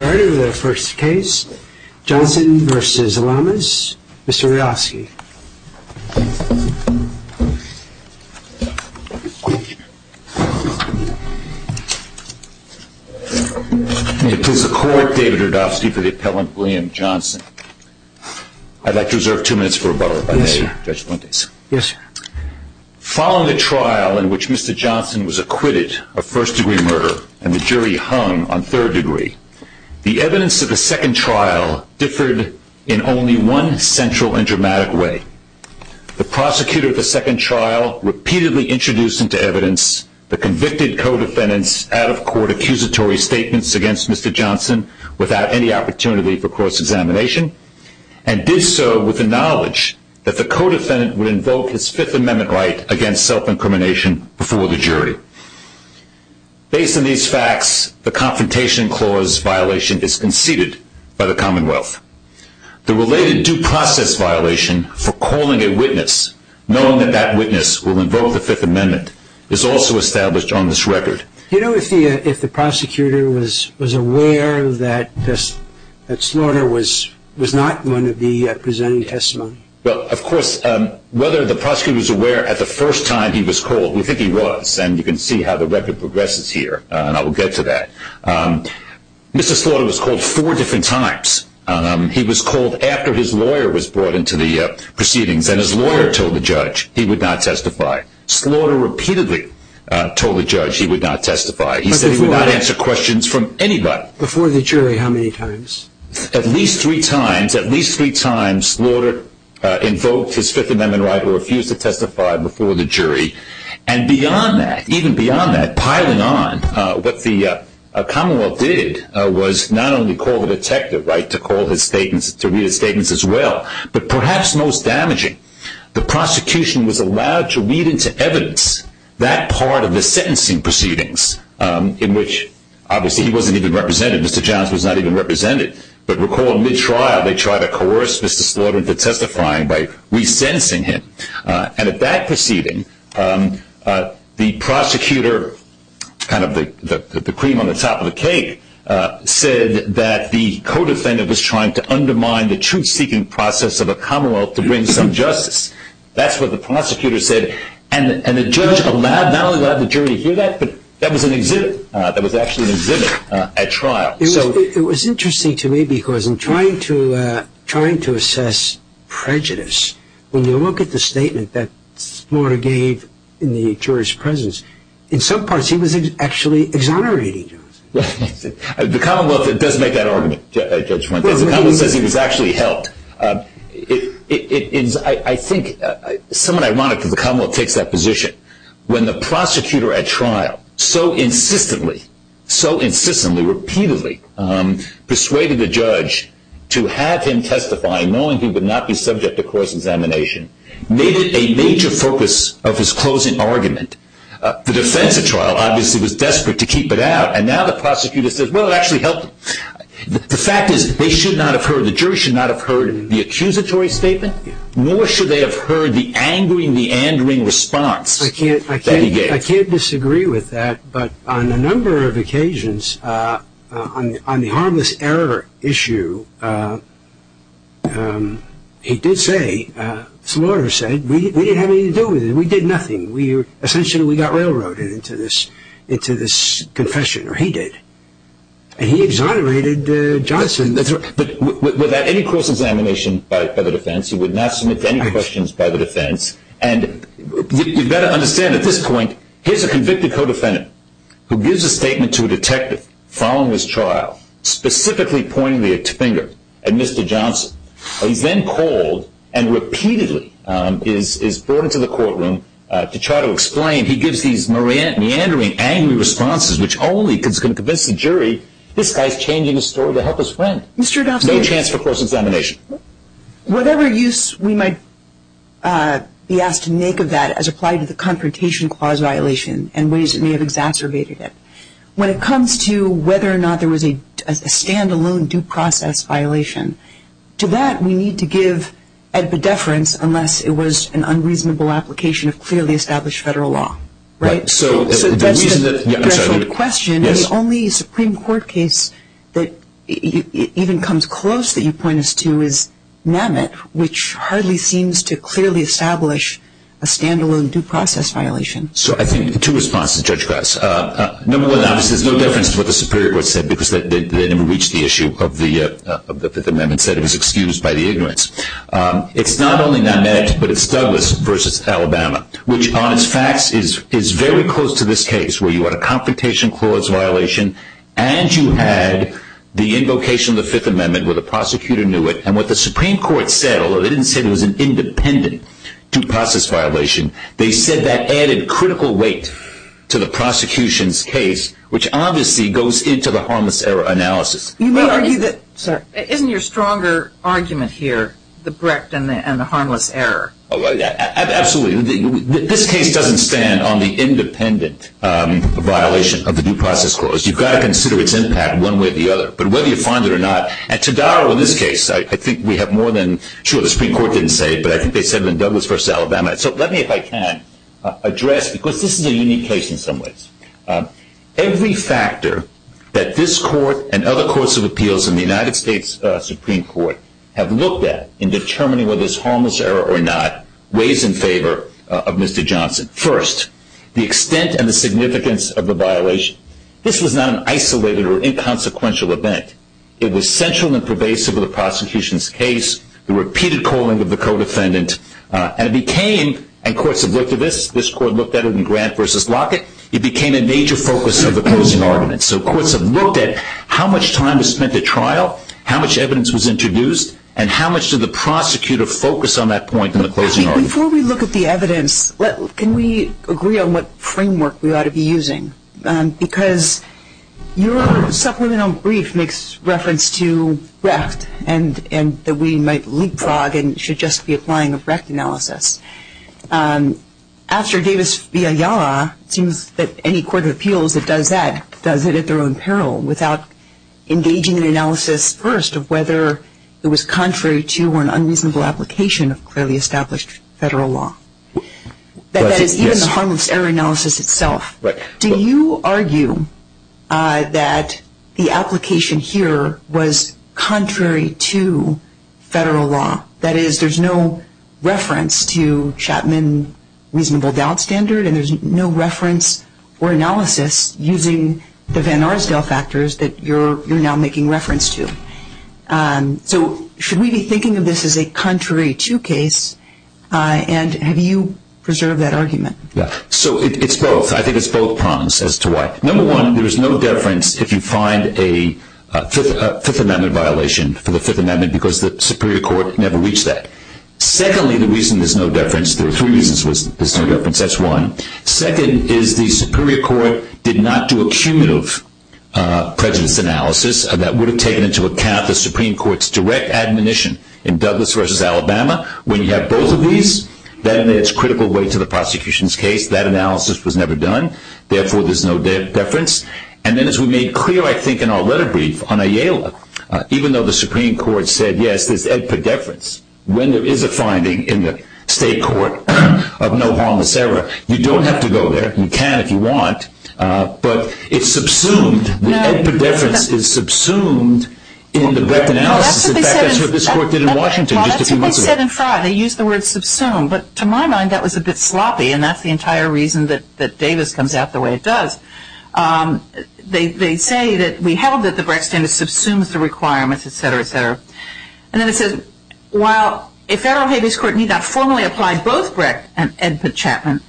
All righty, we'll go to the first case. Johnson v. Lamas. Mr. Radofsky. It is the court, David Radofsky, for the appellant William Johnson. I'd like to reserve two minutes for rebuttal by Judge Fuentes. Yes, sir. Following a trial in which Mr. Johnson was acquitted of first degree murder, and the jury hung on third degree, the evidence of the second trial differed in only one central and dramatic way. The prosecutor of the second trial repeatedly introduced into evidence the convicted codefendant's out-of-court accusatory statements against Mr. Johnson without any opportunity for cross-examination, and did so with the knowledge that the codefendant would invoke his Fifth Amendment right against self-incrimination before the jury. Based on these facts, the Confrontation Clause violation is conceded by the Commonwealth. The related due process violation for calling a witness, knowing that that witness will invoke the Fifth Amendment, is also established on this record. Do you know if the prosecutor was aware that Slaughter was not going to be presenting testimony? Well, of course, whether the prosecutor was aware at the first time he was called, we think he was, and you can see how the record progresses here, and I will get to that. Mr. Slaughter was called four different times. He was called after his lawyer was brought into the proceedings, and his lawyer told the judge he would not testify. Slaughter repeatedly told the judge he would not testify. He said he would not answer questions from anybody. Before the jury, how many times? At least three times. At least three times Slaughter invoked his Fifth Amendment right or refused to testify before the jury. And beyond that, even beyond that, piling on, what the Commonwealth did was not only call the detective to read his statements as well, but perhaps most damaging, the prosecution was allowed to read into evidence that part of the sentencing proceedings, in which obviously he wasn't even represented, Mr. Johns was not even represented, but recall mid-trial they tried to coerce Mr. Slaughter into testifying by re-sentencing him. And at that proceeding, the prosecutor, kind of the cream on the top of the cake, said that the co-defendant was trying to undermine the truth-seeking process of a Commonwealth to bring some justice. That's what the prosecutor said. And the judge allowed, not only allowed the jury to hear that, but that was an exhibit. That was actually an exhibit at trial. It was interesting to me because in trying to assess prejudice, when you look at the statement that Slaughter gave in the jury's presence, in some parts he was actually exonerating him. The Commonwealth does make that argument, Judge Fuentes. The Commonwealth says he was actually helped. I think it's somewhat ironic that the Commonwealth takes that position when the prosecutor at trial so insistently, so insistently, repeatedly, persuaded the judge to have him testify, knowing he would not be subject to course examination, made it a major focus of his closing argument. The defense at trial obviously was desperate to keep it out, and now the prosecutor says, well, it actually helped him. The fact is they should not have heard, the jury should not have heard the accusatory statement, nor should they have heard the angering, the andering response that he gave. I can't disagree with that, but on a number of occasions, on the harmless error issue, he did say, Slaughter said, we didn't have anything to do with it. We did nothing. Essentially we got railroaded into this confession, or he did, and he exonerated Johnson. But without any course examination by the defense, he would not submit to any questions by the defense, and you've got to understand at this point, here's a convicted co-defendant who gives a statement to a detective following his trial, specifically pointing the finger at Mr. Johnson. He's then called and repeatedly is brought into the courtroom to try to explain. He gives these meandering, angry responses, which only can convince the jury, this guy's changing his story to help his friend. No chance for course examination. Whatever use we might be asked to make of that as applied to the confrontation clause violation and ways that may have exacerbated it. When it comes to whether or not there was a stand-alone due process violation, to that we need to give epidefference unless it was an unreasonable application of clearly established federal law. Right? So that's the question, and the only Supreme Court case that even comes close that you point us to is NAMIT, which hardly seems to clearly establish a stand-alone due process violation. So I think two responses, Judge Goss. Number one, obviously there's no difference to what the Superior Court said because they never reached the issue of the Fifth Amendment. Instead it was excused by the ignorance. It's not only NAMIT, but it's Douglas versus Alabama, which on its facts is very close to this case where you had a confrontation clause violation and you had the invocation of the Fifth Amendment where the prosecutor knew it, and what the Supreme Court said, although they didn't say it was an independent due process violation, they said that added critical weight to the prosecution's case, which obviously goes into the harmless error analysis. Isn't your stronger argument here the Brecht and the harmless error? Absolutely. This case doesn't stand on the independent violation of the due process clause. You've got to consider its impact one way or the other. But whether you find it or not, and Tadaro in this case, I think we have more than, sure, the Supreme Court didn't say it, but I think they said it in Douglas versus Alabama. So let me, if I can, address, because this is a unique case in some ways, every factor that this court and other courts of appeals in the United States Supreme Court have looked at in determining whether it's harmless error or not weighs in favor of Mr. Johnson. First, the extent and the significance of the violation. This was not an isolated or inconsequential event. It was central and pervasive of the prosecution's case, the repeated calling of the co-defendant, and it became, and courts have looked at this, this court looked at it in Grant versus Lockett, it became a major focus of the closing argument. So courts have looked at how much time was spent at trial, how much evidence was introduced, and how much did the prosecutor focus on that point in the closing argument. Before we look at the evidence, can we agree on what framework we ought to be using? Because your supplemental brief makes reference to Brecht and that we might leapfrog and should just be applying a Brecht analysis. After Davis v. Ayala, it seems that any court of appeals that does that does it at their own peril without engaging in analysis first of whether it was contrary to or an unreasonable application of clearly established federal law. That is, even the harmless error analysis itself. Do you argue that the application here was contrary to federal law? That is, there's no reference to Chapman reasonable doubt standard and there's no reference or analysis using the Van Arsdale factors that you're now making reference to. So should we be thinking of this as a contrary to case, and have you preserved that argument? So it's both. I think it's both prongs as to why. Number one, there is no deference if you find a Fifth Amendment violation for the Fifth Amendment because the Superior Court never reached that. Secondly, the reason there's no deference, there are three reasons there's no deference, that's one. Second is the Superior Court did not do a cumulative prejudice analysis that would have taken into account the Supreme Court's direct admonition in Douglas v. Alabama. When you have both of these, then it's critical weight to the prosecution's case. That analysis was never done. Therefore, there's no deference. And then as we made clear, I think, in our letter brief on Ayala, even though the Supreme Court said, yes, there's a deference, when there is a finding in the state court of no harmless error, you don't have to go there. You can if you want, but it's subsumed. The deference is subsumed in the breadth analysis. In fact, that's what this court did in Washington just a few months ago. Well, that's what they said in Friar. They used the word subsumed. But to my mind, that was a bit sloppy, and that's the entire reason that Davis comes out the way it does. They say that we held that the Brecht standard subsumes the requirements, et cetera, et cetera. And then it says, while a federal habeas court need not formally apply both Brecht and Edputt Chapman,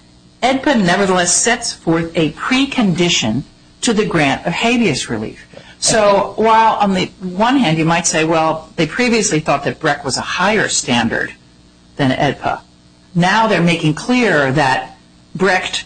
Edputt nevertheless sets forth a precondition to the grant of habeas relief. So while on the one hand you might say, well, they previously thought that Brecht was a higher standard than Edputt, now they're making clear that Brecht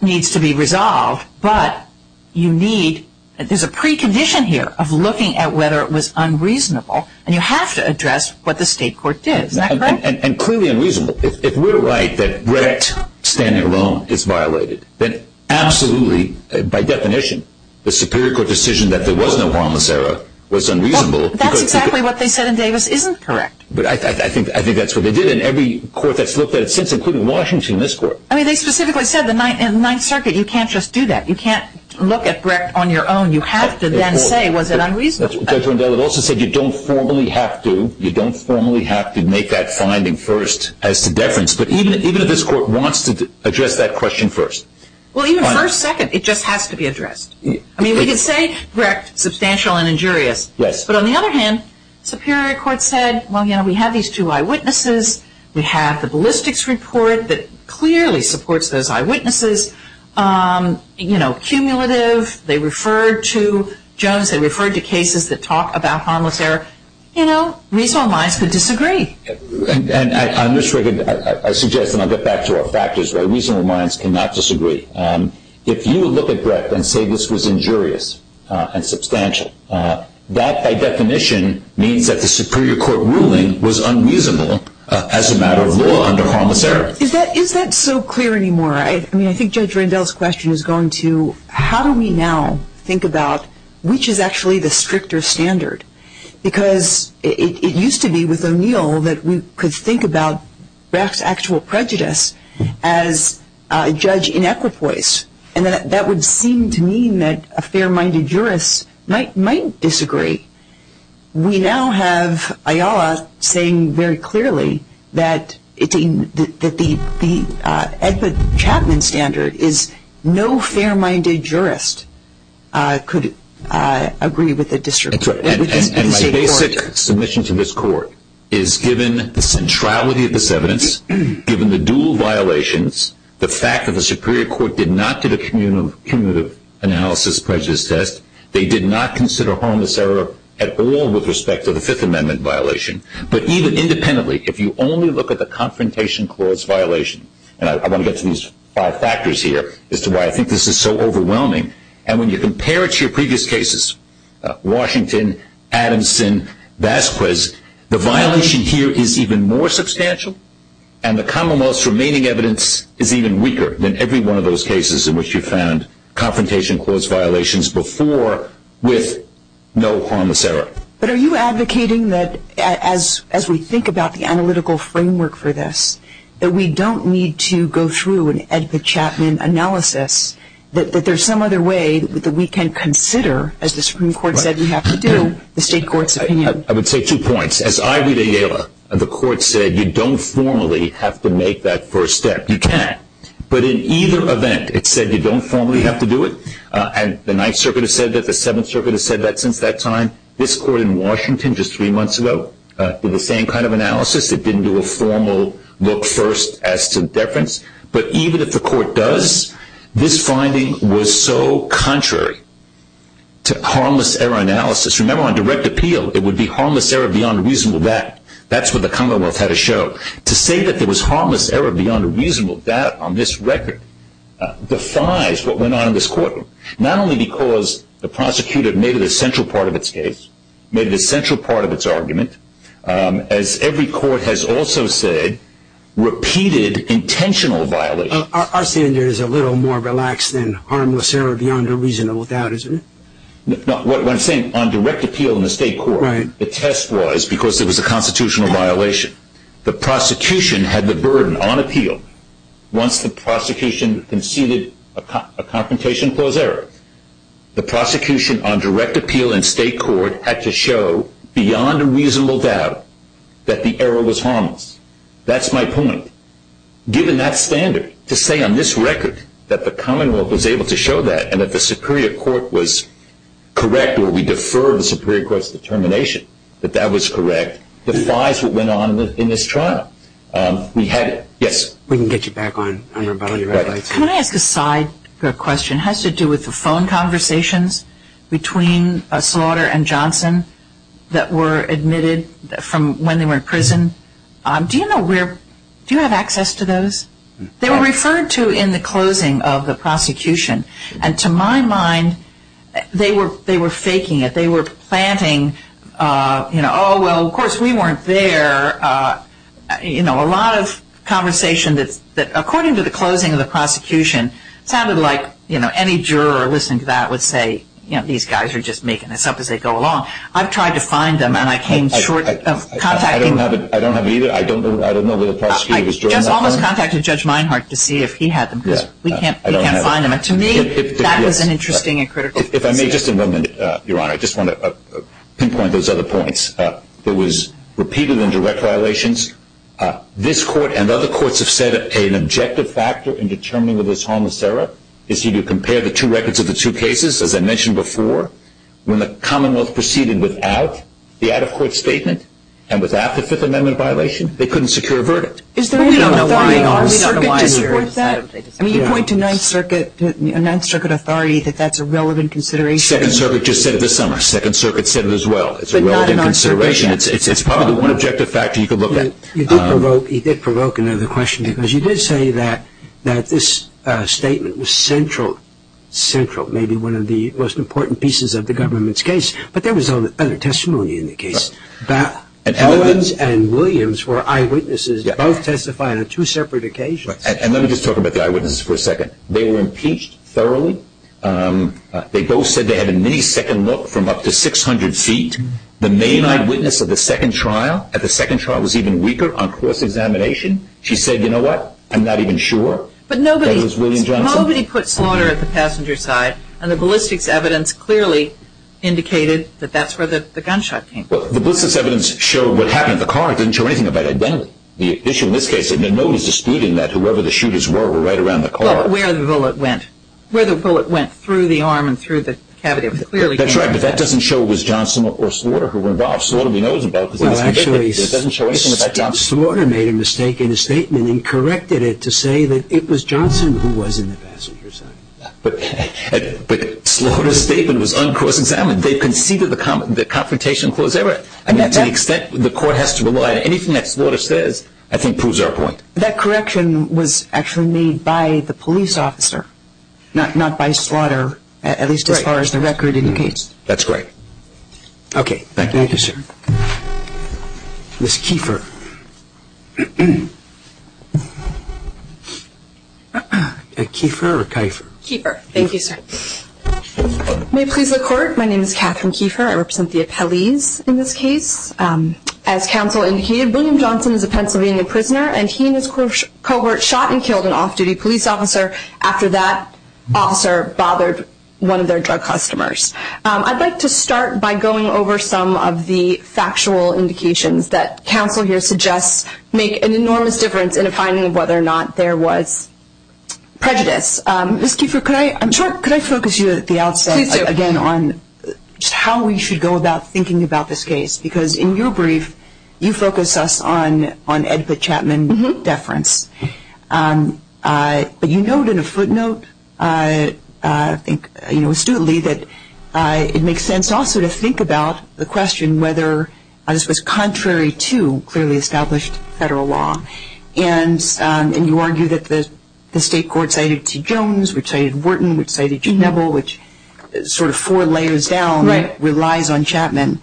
needs to be resolved, but you need – there's a precondition here of looking at whether it was unreasonable, and you have to address what the state court did. Is that correct? And clearly unreasonable. If we're right that Brecht standing alone is violated, then absolutely, by definition, the Superior Court decision that there was no harmless error was unreasonable. Well, that's exactly what they said in Davis isn't correct. But I think that's what they did in every court that's looked at it since, including Washington, this court. I mean, they specifically said in the Ninth Circuit you can't just do that. You can't look at Brecht on your own. You have to then say, was it unreasonable? Judge Rendell, it also said you don't formally have to. You don't formally have to make that finding first as to deference. But even if this court wants to address that question first. Well, even first, second, it just has to be addressed. I mean, we can say Brecht, substantial and injurious. Yes. But on the other hand, the Superior Court said, well, you know, we have these two eyewitnesses. We have the ballistics report that clearly supports those eyewitnesses. You know, cumulative, they referred to Jones, they referred to cases that talk about harmless error. You know, reasonable minds could disagree. And I suggest, and I'll get back to our factors, why reasonable minds cannot disagree. If you look at Brecht and say this was injurious and substantial, that by definition means that the Superior Court ruling was unreasonable as a matter of law under harmless error. Is that so clear anymore? I mean, I think Judge Rendell's question is going to how do we now think about which is actually the stricter standard? Because it used to be with O'Neill that we could think about Brecht's actual prejudice as a judge in equipoise. And that would seem to mean that a fair-minded jurist might disagree. We now have Ayala saying very clearly that the Edward Chapman standard is no fair-minded jurist could agree with a district court. And my basic submission to this court is given the centrality of this evidence, given the dual violations, the fact that the Superior Court did not do the cumulative analysis prejudice test, they did not consider harmless error at all with respect to the Fifth Amendment violation. But even independently, if you only look at the Confrontation Clause violation, and I want to get to these five factors here as to why I think this is so overwhelming. And when you compare it to your previous cases, Washington, Adamson, Vasquez, the violation here is even more substantial and the commonwealth's remaining evidence is even weaker than every one of those cases in which you found Confrontation Clause violations before with no harmless error. But are you advocating that as we think about the analytical framework for this, that we don't need to go through an Edward Chapman analysis, that there's some other way that we can consider, as the Supreme Court said we have to do, the state court's opinion? I would say two points. As I read Ayala, the court said you don't formally have to make that first step. You can't. But in either event, it said you don't formally have to do it, and the Ninth Circuit has said that, the Seventh Circuit has said that since that time. This court in Washington just three months ago did the same kind of analysis. It didn't do a formal look first as to deference. But even if the court does, this finding was so contrary to harmless error analysis. Remember, on direct appeal, it would be harmless error beyond a reasonable doubt. That's what the commonwealth had to show. To say that there was harmless error beyond a reasonable doubt on this record defies what went on in this courtroom, not only because the prosecutor made it a central part of its case, made it a central part of its argument. As every court has also said, repeated intentional violations. Our standard is a little more relaxed than harmless error beyond a reasonable doubt, isn't it? No, what I'm saying, on direct appeal in the state court, the test was because it was a constitutional violation. The prosecution had the burden on appeal. Once the prosecution conceded a confrontation clause error, the prosecution on direct appeal in state court had to show beyond a reasonable doubt that the error was harmless. That's my point. Given that standard, to say on this record that the commonwealth was able to show that and that the superior court was correct or we defer the superior court's determination that that was correct, defies what went on in this trial. We had, yes? We can get you back on your red lights. Can I ask a side question? It has to do with the phone conversations between Slaughter and Johnson that were admitted from when they were in prison. Do you know where, do you have access to those? They were referred to in the closing of the prosecution. And to my mind, they were faking it. They were planting, you know, oh, well, of course we weren't there. You know, a lot of conversation that, according to the closing of the prosecution, sounded like, you know, any juror listening to that would say, you know, these guys are just making this up as they go along. I've tried to find them and I came short of contacting them. I don't have either. I don't know where the prosecutor was during that time. I almost contacted Judge Meinhardt to see if he had them because we can't find them. And to me, that was an interesting and critical decision. If I may, just a moment, Your Honor. I just want to pinpoint those other points. There was repeated and direct violations. This court and other courts have said an objective factor in determining whether it's harmless error is to compare the two records of the two cases, as I mentioned before. When the Commonwealth proceeded without the out-of-court statement and without the Fifth Amendment violation, they couldn't secure a verdict. Is there any authority on the circuit to support that? I mean, you point to Ninth Circuit authority that that's a relevant consideration. Second Circuit just said it this summer. Second Circuit said it as well. It's a relevant consideration. It's probably the one objective factor you could look at. You did provoke another question because you did say that this statement was central, central, maybe one of the most important pieces of the government's case, but there was other testimony in the case. Owens and Williams were eyewitnesses. Both testified on two separate occasions. And let me just talk about the eyewitnesses for a second. They were impeached thoroughly. They both said they had a many-second look from up to 600 feet. The main eyewitness at the second trial was even weaker on course examination. She said, you know what? I'm not even sure. But nobody put slaughter at the passenger side, and the ballistics evidence clearly indicated that that's where the gunshot came from. The ballistics evidence showed what happened at the car. It didn't show anything about identity. The issue in this case is that nobody's disputing that whoever the shooters were were right around the car. Where the bullet went. Where the bullet went through the arm and through the cavity. That's right. But that doesn't show it was Johnson or Slaughter who were involved. Slaughter only knows about what was convicted. It doesn't show anything about Johnson. Slaughter made a mistake in his statement and corrected it to say that it was Johnson who was in the passenger side. But Slaughter's statement was uncourse examined. They conceded the confrontation clause error. I mean, to the extent the court has to rely on anything that Slaughter says, I think proves our point. That correction was actually made by the police officer, not by Slaughter, at least as far as the record indicates. That's right. Okay. Thank you, sir. Ms. Kiefer. Kiefer or Kiefer? Kiefer. Thank you, sir. May it please the Court, my name is Catherine Kiefer. I represent the Appellees in this case. As counsel indicated, William Johnson is a Pennsylvania prisoner and he and his cohort shot and killed an off-duty police officer after that officer bothered one of their drug customers. I'd like to start by going over some of the factual indications that counsel here suggests make an enormous difference in a finding of whether or not there was prejudice. Ms. Kiefer, could I focus you at the outset again on just how we should go about thinking about this case? Because in your brief, you focus us on Edgar Chapman deference. But you note in a footnote, I think astutely, that it makes sense also to think about the question whether this was contrary to clearly established federal law. And you argue that the state court cited T. Jones, which cited Wharton, which cited J. Neville, which sort of four layers down relies on Chapman.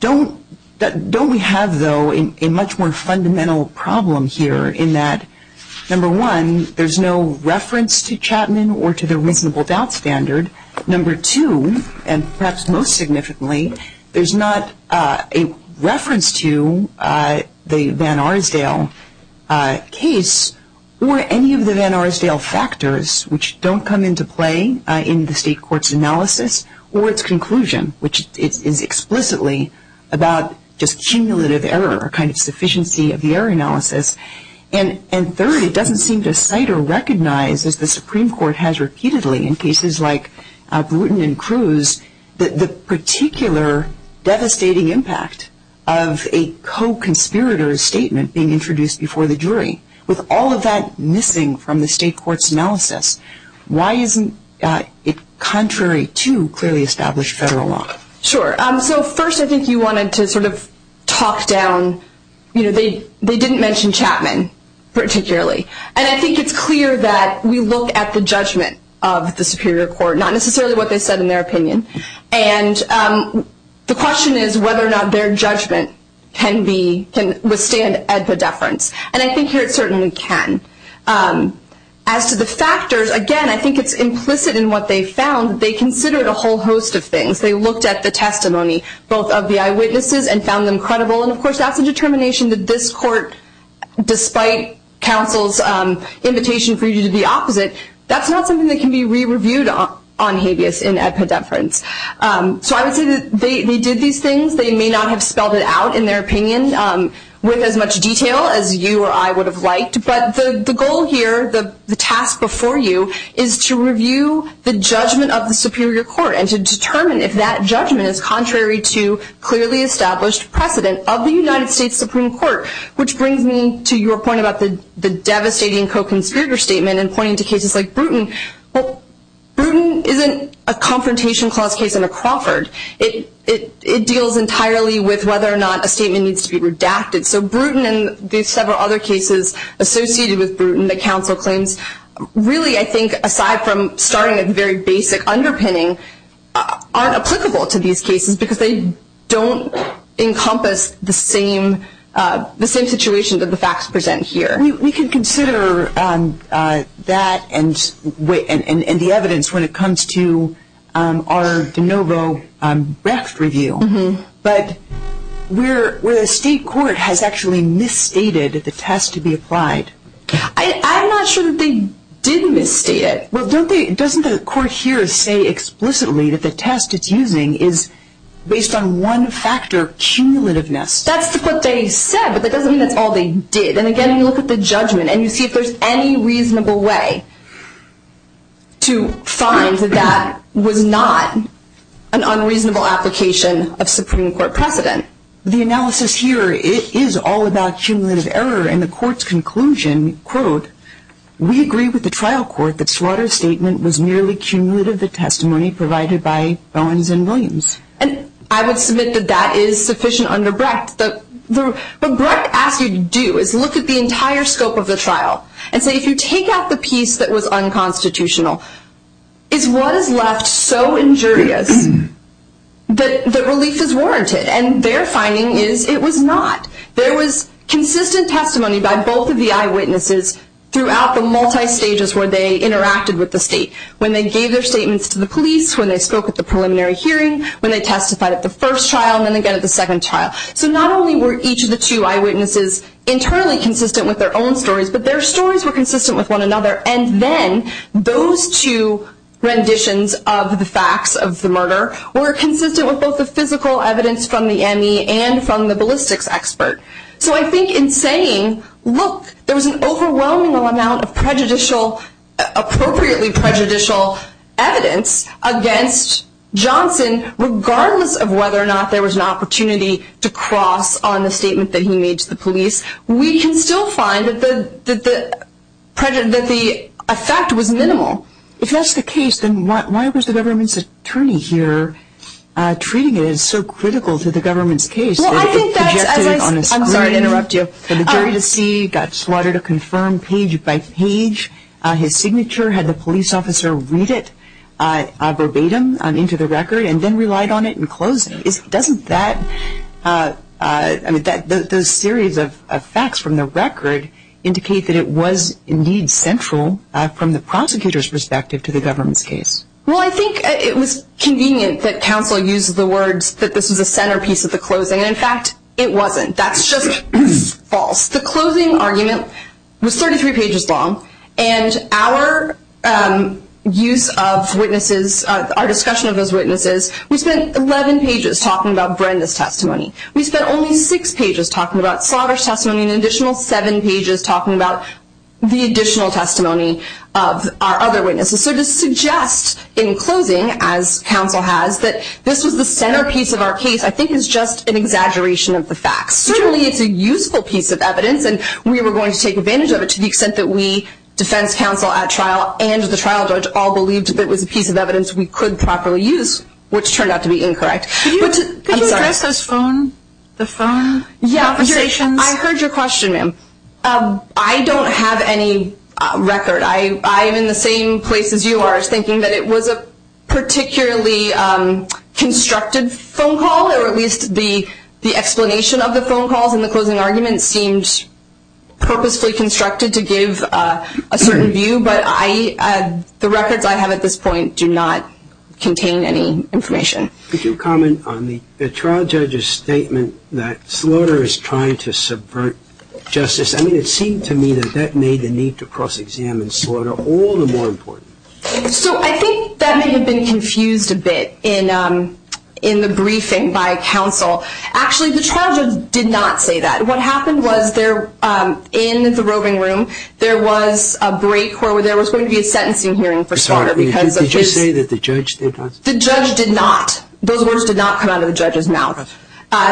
Don't we have, though, a much more fundamental problem here in that, number one, there's no reference to Chapman or to the reasonable doubt standard? Number two, and perhaps most significantly, there's not a reference to the Van Arsdale case or any of the Van Arsdale factors, which don't come into play in the state court's analysis or its conclusion, which is explicitly about just cumulative error, a kind of sufficiency of the error analysis. And third, it doesn't seem to cite or recognize, as the Supreme Court has repeatedly in cases like Bruton and Cruz, the particular devastating impact of a co-conspirator's statement being introduced before the jury, with all of that missing from the state court's analysis. Why isn't it contrary to clearly established federal law? Sure. So first, I think you wanted to sort of talk down, you know, they didn't mention Chapman particularly. And I think it's clear that we look at the judgment of the Superior Court, not necessarily what they said in their opinion. And the question is whether or not their judgment can be, can withstand at the deference. And I think here it certainly can. As to the factors, again, I think it's implicit in what they found. They considered a whole host of things. They looked at the testimony, both of the eyewitnesses, and found them credible. And, of course, that's a determination that this court, despite counsel's invitation for you to do the opposite, that's not something that can be re-reviewed on habeas in epideference. So I would say that they did these things. They may not have spelled it out in their opinion with as much detail as you or I would have liked. But the goal here, the task before you, is to review the judgment of the Superior Court and to determine if that judgment is contrary to clearly established precedent of the United States Supreme Court, which brings me to your point about the devastating co-conspirator statement and pointing to cases like Bruton. Well, Bruton isn't a Confrontation Clause case in a Crawford. It deals entirely with whether or not a statement needs to be redacted. So Bruton and the several other cases associated with Bruton that counsel claims, really, I think, aside from starting a very basic underpinning, aren't applicable to these cases because they don't encompass the same situation that the facts present here. We can consider that and the evidence when it comes to our de novo raft review. But where the state court has actually misstated the test to be applied. I'm not sure that they did misstate it. Well, doesn't the court here say explicitly that the test it's using is based on one factor, cumulativeness? That's what they said, but that doesn't mean that's all they did. And again, you look at the judgment and you see if there's any reasonable way to find that that was not an unreasonable application of Supreme Court precedent. The analysis here is all about cumulative error. And the court's conclusion, quote, we agree with the trial court that Slaughter's statement was merely cumulative to testimony provided by Bowens and Williams. And I would submit that that is sufficient under Brecht. What Brecht asks you to do is look at the entire scope of the trial and say if you take out the piece that was unconstitutional, is what is left so injurious that relief is warranted? And their finding is it was not. There was consistent testimony by both of the eyewitnesses throughout the multi-stages where they interacted with the state. When they gave their statements to the police, when they spoke at the preliminary hearing, when they testified at the first trial, and then again at the second trial. So not only were each of the two eyewitnesses internally consistent with their own stories, but their stories were consistent with one another. And then those two renditions of the facts of the murder were consistent with both the physical evidence from the ME and from the ballistics expert. So I think in saying, look, there was an overwhelming amount of prejudicial, appropriately prejudicial evidence against Johnson, regardless of whether or not there was an opportunity to cross on the statement that he made to the police. We can still find that the effect was minimal. If that's the case, then why was the government's attorney here treating it as so critical to the government's case? I'm sorry to interrupt you. For the jury to see, got slaughtered, a confirmed page by page, his signature, had the police officer read it verbatim into the record and then relied on it in closing. Doesn't that, I mean, the series of facts from the record indicate that it was indeed central from the prosecutor's perspective to the government's case? Well, I think it was convenient that counsel used the words that this was a centerpiece of the closing. In fact, it wasn't. That's just false. The closing argument was 33 pages long, and our use of witnesses, our discussion of those witnesses, we spent 11 pages talking about Brenda's testimony. We spent only 6 pages talking about slaughter's testimony and an additional 7 pages talking about the additional testimony of our other witnesses. So to suggest in closing, as counsel has, that this was the centerpiece of our case, I think, is just an exaggeration of the facts. Certainly it's a useful piece of evidence, and we were going to take advantage of it to the extent that we, defense counsel at trial and the trial judge, all believed that it was a piece of evidence we could properly use, which turned out to be incorrect. Could you address the phone conversations? I heard your question, ma'am. I don't have any record. I'm in the same place as you are, thinking that it was a particularly constructed phone call, or at least the explanation of the phone calls in the closing argument seemed purposefully constructed to give a certain view. But the records I have at this point do not contain any information. Could you comment on the trial judge's statement that slaughter is trying to subvert justice? I mean, it seemed to me that that made the need to cross-examine slaughter all the more important. So I think that may have been confused a bit in the briefing by counsel. Actually, the trial judge did not say that. What happened was, in the roving room, there was a break where there was going to be a sentencing hearing for slaughter. Did you say that the judge did not say that? The judge did not. Those words did not come out of the judge's mouth.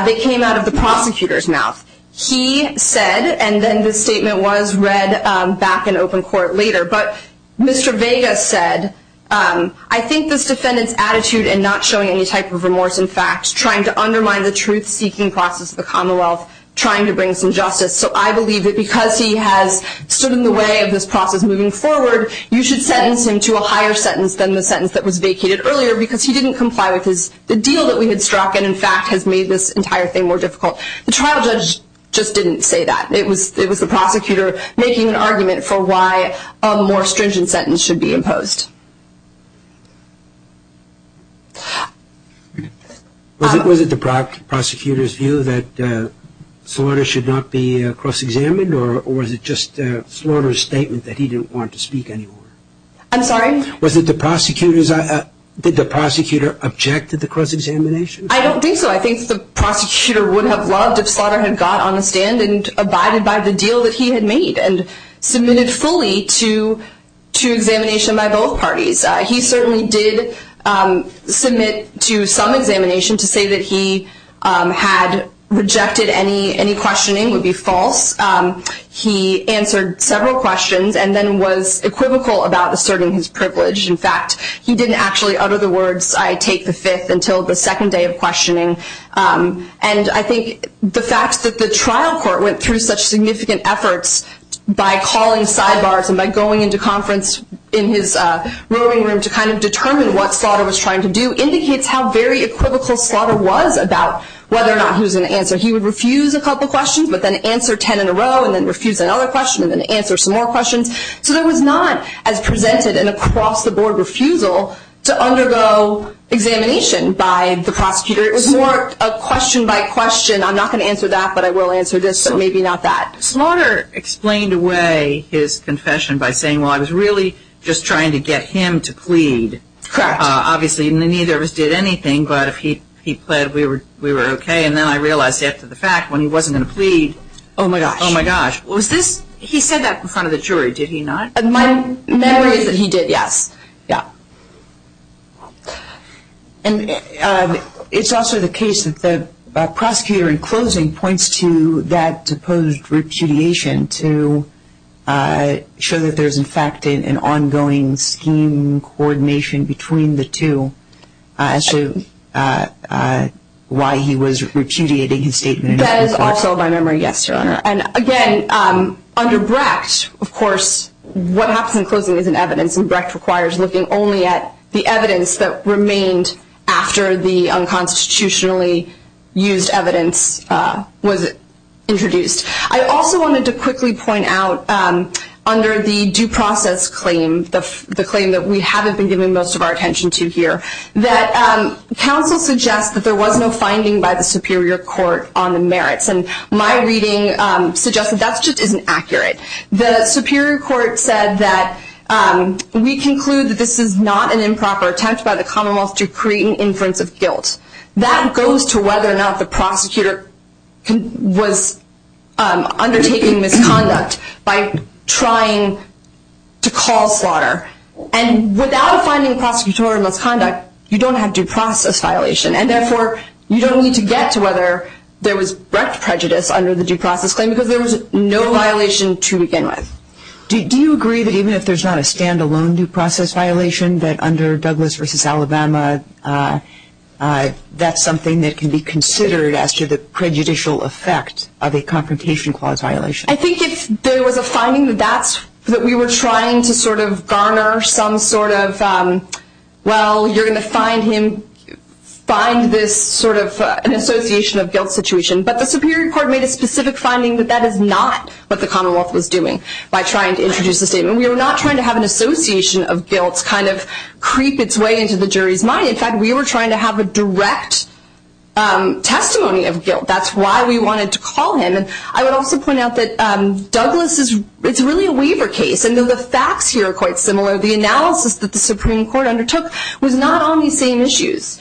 They came out of the prosecutor's mouth. He said, and then this statement was read back in open court later, but Mr. Vega said, I think this defendant's attitude in not showing any type of remorse in facts, trying to undermine the truth-seeking process of the Commonwealth, trying to bring some justice. So I believe that because he has stood in the way of this process moving forward, you should sentence him to a higher sentence than the sentence that was vacated earlier because he didn't comply with the deal that we had struck and, in fact, has made this entire thing more difficult. The trial judge just didn't say that. It was the prosecutor making an argument for why a more stringent sentence should be imposed. Was it the prosecutor's view that slaughter should not be cross-examined or was it just slaughter's statement that he didn't want to speak anymore? I'm sorry? Was it the prosecutor's? Did the prosecutor object to the cross-examination? I don't think so. I think the prosecutor would have loved if slaughter had got on the stand and abided by the deal that he had made and submitted fully to examination by both parties. He certainly did submit to some examination to say that he had rejected any questioning. It would be false. He answered several questions and then was equivocal about asserting his privilege. In fact, he didn't actually utter the words, I take the fifth until the second day of questioning. And I think the fact that the trial court went through such significant efforts by calling sidebars and by going into conference in his room to kind of determine what slaughter was trying to do indicates how very equivocal slaughter was about whether or not he was going to answer. He would refuse a couple of questions but then answer ten in a row and then refuse another question and then answer some more questions. So there was not as presented an across-the-board refusal to undergo examination by the prosecutor. It was more a question by question. I'm not going to answer that, but I will answer this, so maybe not that. Slaughter explained away his confession by saying, well, I was really just trying to get him to plead. Correct. Obviously, neither of us did anything, but if he pled, we were okay. And then I realized after the fact when he wasn't going to plead. Oh, my gosh. Oh, my gosh. He said that in front of the jury, did he not? My memory is that he did, yes. And it's also the case that the prosecutor in closing points to that supposed repudiation to show that there's, in fact, an ongoing scheme coordination between the two as to why he was repudiating his statement. That is also my memory, yes, Your Honor. And, again, under Brecht, of course, what happens in closing is in evidence and Brecht requires looking only at the evidence that remained after the unconstitutionally used evidence was introduced. I also wanted to quickly point out under the due process claim, the claim that we haven't been giving most of our attention to here, that counsel suggests that there was no finding by the superior court on the merits, and my reading suggests that that just isn't accurate. The superior court said that we conclude that this is not an improper attempt by the commonwealth to create an inference of guilt. That goes to whether or not the prosecutor was undertaking misconduct by trying to call slaughter. And without a finding of prosecutorial misconduct, you don't have due process violation, and, therefore, you don't need to get to whether there was Brecht prejudice under the due process claim because there was no violation to begin with. Do you agree that even if there's not a stand-alone due process violation, that under Douglas v. Alabama, that's something that can be considered as to the prejudicial effect of a confrontation clause violation? I think if there was a finding that we were trying to sort of garner some sort of, well, you're going to find this sort of an association of guilt situation, but the superior court made a specific finding that that is not what the commonwealth was doing by trying to introduce a statement. We were not trying to have an association of guilt kind of creep its way into the jury's mind. In fact, we were trying to have a direct testimony of guilt. That's why we wanted to call him. And I would also point out that Douglas is really a waiver case, and the facts here are quite similar. The analysis that the Supreme Court undertook was not on these same issues.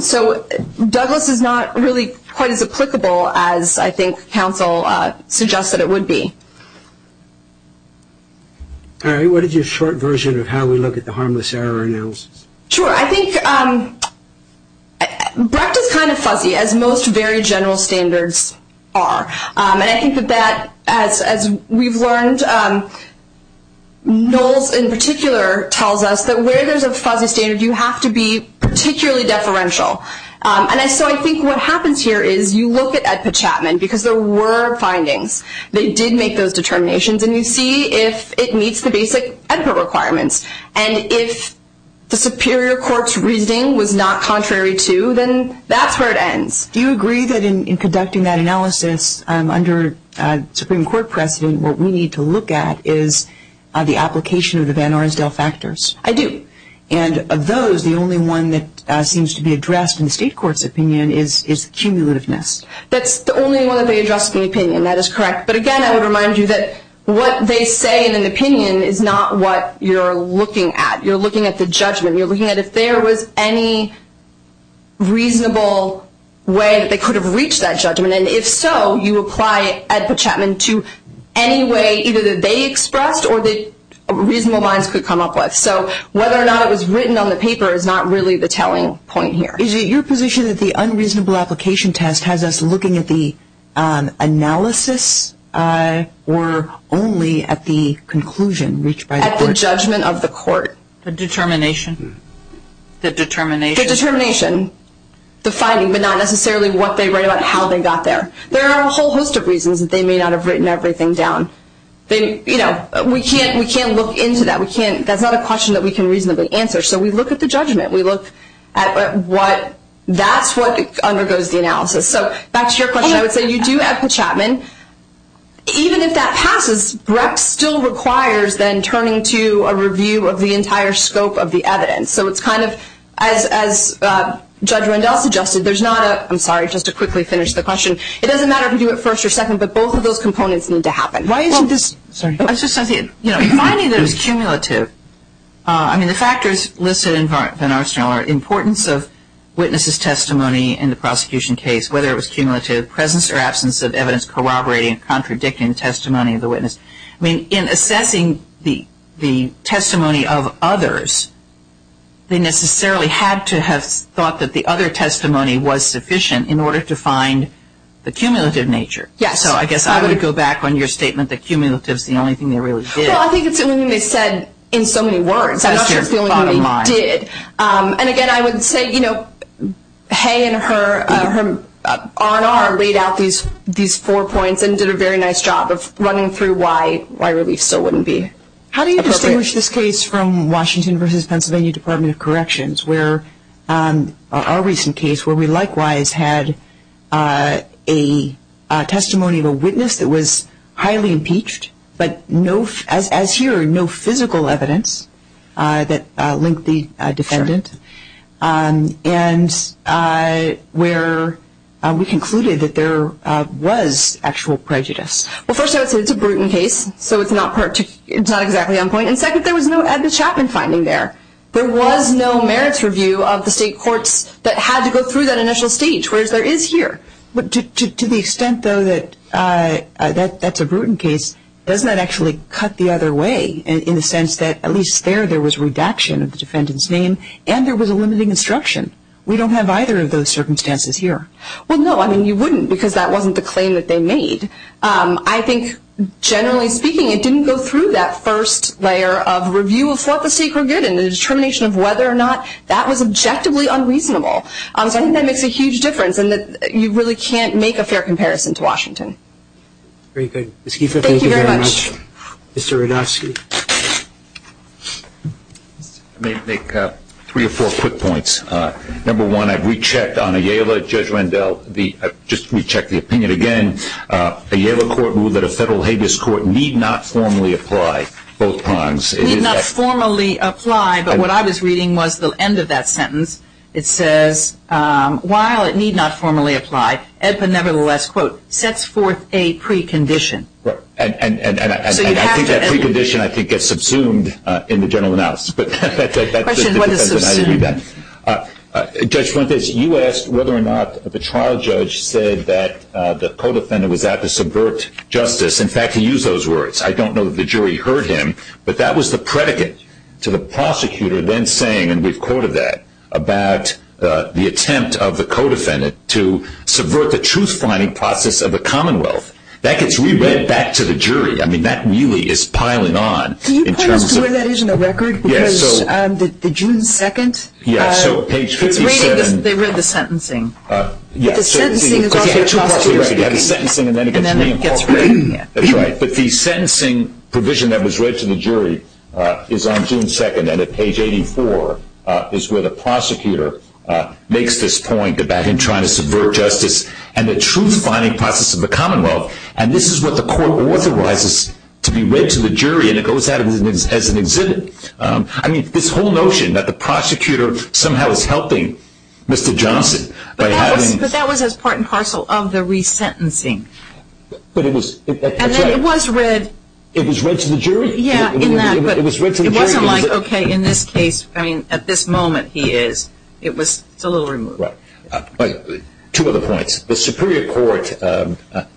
So Douglas is not really quite as applicable as I think counsel suggested it would be. All right. What is your short version of how we look at the harmless error analysis? Sure. I think Brecht is kind of fuzzy, as most very general standards are. And I think that that, as we've learned, Knowles in particular tells us that where there's a fuzzy standard, you have to be particularly deferential. And so I think what happens here is you look at Edpert Chapman, because there were findings. They did make those determinations, and you see if it meets the basic Edpert requirements. And if the superior court's reasoning was not contrary to, then that's where it ends. Do you agree that in conducting that analysis under Supreme Court precedent, what we need to look at is the application of the Van Oresdale factors? I do. And of those, the only one that seems to be addressed in the state court's opinion is cumulativeness. That's the only one that they addressed in the opinion. That is correct. But again, I would remind you that what they say in an opinion is not what you're looking at. You're looking at the judgment. You're looking at if there was any reasonable way that they could have reached that judgment. And if so, you apply Edpert Chapman to any way either that they expressed or the reasonable minds could come up with. So whether or not it was written on the paper is not really the telling point here. Is it your position that the unreasonable application test has us looking at the analysis or only at the conclusion reached by the court? At the judgment of the court. The determination? The determination. The determination. The finding, but not necessarily what they write about how they got there. There are a whole host of reasons that they may not have written everything down. We can't look into that. That's not a question that we can reasonably answer. So we look at the judgment. We look at what that's what undergoes the analysis. So back to your question, I would say you do have Chapman. Even if that passes, Breck still requires then turning to a review of the entire scope of the evidence. So it's kind of as Judge Rendell suggested, there's not a – I'm sorry, just to quickly finish the question. It doesn't matter if you do it first or second, but both of those components need to happen. Why isn't this – sorry. It's just something – you know, finding that it was cumulative, I mean, the factors listed in Van Arsenal are importance of witness's testimony in the prosecution case, whether it was cumulative, presence or absence of evidence corroborating and contradicting the testimony of the witness. I mean, in assessing the testimony of others, they necessarily had to have thought that the other testimony was sufficient in order to find the cumulative nature. Yes. So I guess I would go back on your statement that cumulative is the only thing they really did. Well, I think it's the only thing they said in so many words. That's just the only thing they did. And again, I would say, you know, Hay and her R&R laid out these four points and did a very nice job of running through why relief still wouldn't be appropriate. How do you distinguish this case from Washington v. Pennsylvania Department of Corrections, where our recent case where we likewise had a testimony of a witness that was highly impeached, but as here, no physical evidence that linked the defendant, and where we concluded that there was actual prejudice? Well, first I would say it's a brutal case, so it's not exactly on point. And second, there was no Edmund Chapman finding there. There was no merits review of the state courts that had to go through that initial stage, whereas there is here. But to the extent, though, that that's a brutal case, doesn't that actually cut the other way in the sense that at least there there was redaction of the defendant's name and there was a limiting instruction? We don't have either of those circumstances here. Well, no, I mean, you wouldn't because that wasn't the claim that they made. I think, generally speaking, it didn't go through that first layer of review of what the state court did and the determination of whether or not that was objectively unreasonable. So I think that makes a huge difference, and you really can't make a fair comparison to Washington. Very good. Ms. Keefer, thank you very much. Thank you very much. Mr. Ranofsky? I'll make three or four quick points. Number one, I've rechecked on Ayala, Judge Rendell, just rechecked the opinion again. Ayala court ruled that a federal habeas court need not formally apply both prongs. Need not formally apply, but what I was reading was the end of that sentence. It says, while it need not formally apply, EDPA nevertheless, quote, sets forth a precondition. And I think that precondition, I think, gets subsumed in the general announcement. Questions, what is subsumed? Judge Fuentes, you asked whether or not the trial judge said that the co-defendant was out to subvert justice. In fact, he used those words. I don't know that the jury heard him, but that was the predicate to the prosecutor then saying, and we've quoted that, about the attempt of the co-defendant to subvert the truth-finding process of the Commonwealth. That gets re-read back to the jury. I mean, that really is piling on. Can you point us to where that is in the record? Yes. Because the June 2nd. Yeah, so page 57. They read the sentencing. But the sentencing is also the prosecutor's decision. You have the sentencing and then it gets re-incorporated. That's right. But the sentencing provision that was read to the jury is on June 2nd, and at page 84 is where the prosecutor makes this point about him trying to subvert justice and the truth-finding process of the Commonwealth. And this is what the court authorizes to be read to the jury, and it goes out as an exhibit. I mean, this whole notion that the prosecutor somehow is helping Mr. Johnson by having... But that was as part and parcel of the re-sentencing. But it was... And then it was read... It was read to the jury. Yeah, in that, but... It was read to the jury. It wasn't like, okay, in this case, I mean, at this moment he is. It's a little removed. Right. Two other points. The Superior Court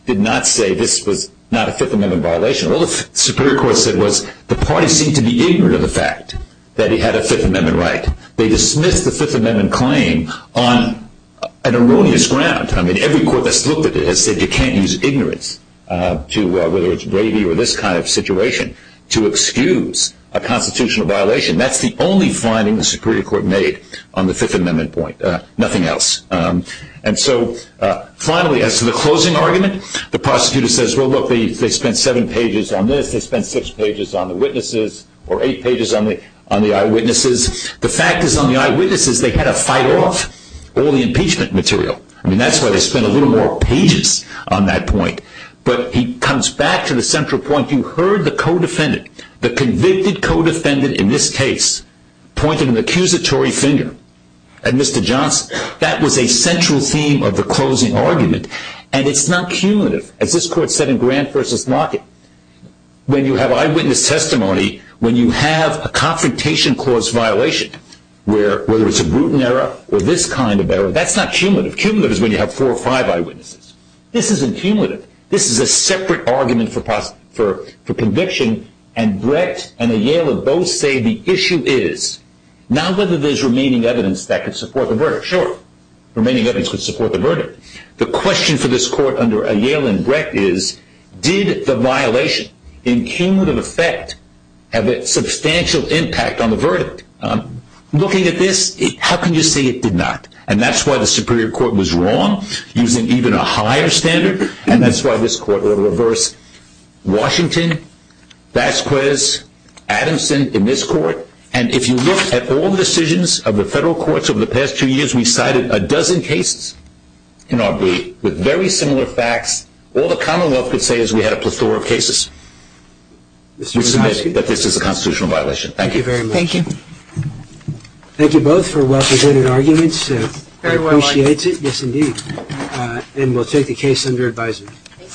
did not say this was not a Fifth Amendment violation. All the Superior Court said was the party seemed to be ignorant of the fact that he had a Fifth Amendment right. They dismissed the Fifth Amendment claim on an erroneous ground. I mean, every court that's looked at it has said you can't use ignorance, whether it's gravy or this kind of situation, to excuse a constitutional violation. That's the only finding the Superior Court made on the Fifth Amendment point. Nothing else. And so, finally, as to the closing argument, the prosecutor says, well, look, they spent seven pages on this. They spent six pages on the witnesses or eight pages on the eyewitnesses. The fact is on the eyewitnesses, they had to fight off all the impeachment material. I mean, that's why they spent a little more pages on that point. But he comes back to the central point. You heard the co-defendant, the convicted co-defendant in this case, point an accusatory finger at Mr. Johnson. That was a central theme of the closing argument, and it's not cumulative. As this court said in Grant v. Lockett, when you have eyewitness testimony, when you have a confrontation clause violation, whether it's a Bruton error or this kind of error, that's not cumulative. Cumulative is when you have four or five eyewitnesses. This isn't cumulative. This is a separate argument for conviction, and Brecht and Aiello both say the issue is, not whether there's remaining evidence that could support the verdict. Sure, remaining evidence could support the verdict. The question for this court under Aiello and Brecht is, did the violation in cumulative effect have a substantial impact on the verdict? Looking at this, how can you say it did not? And that's why the Superior Court was wrong, using even a higher standard, and that's why this court will reverse Washington, Vasquez, Adamson in this court. And if you look at all the decisions of the federal courts over the past two years, we cited a dozen cases in our brief with very similar facts. All the Commonwealth could say is we had a plethora of cases. We cited that this is a constitutional violation. Thank you. Thank you very much. Appreciate it. Yes, indeed. And we'll take the case under advisement.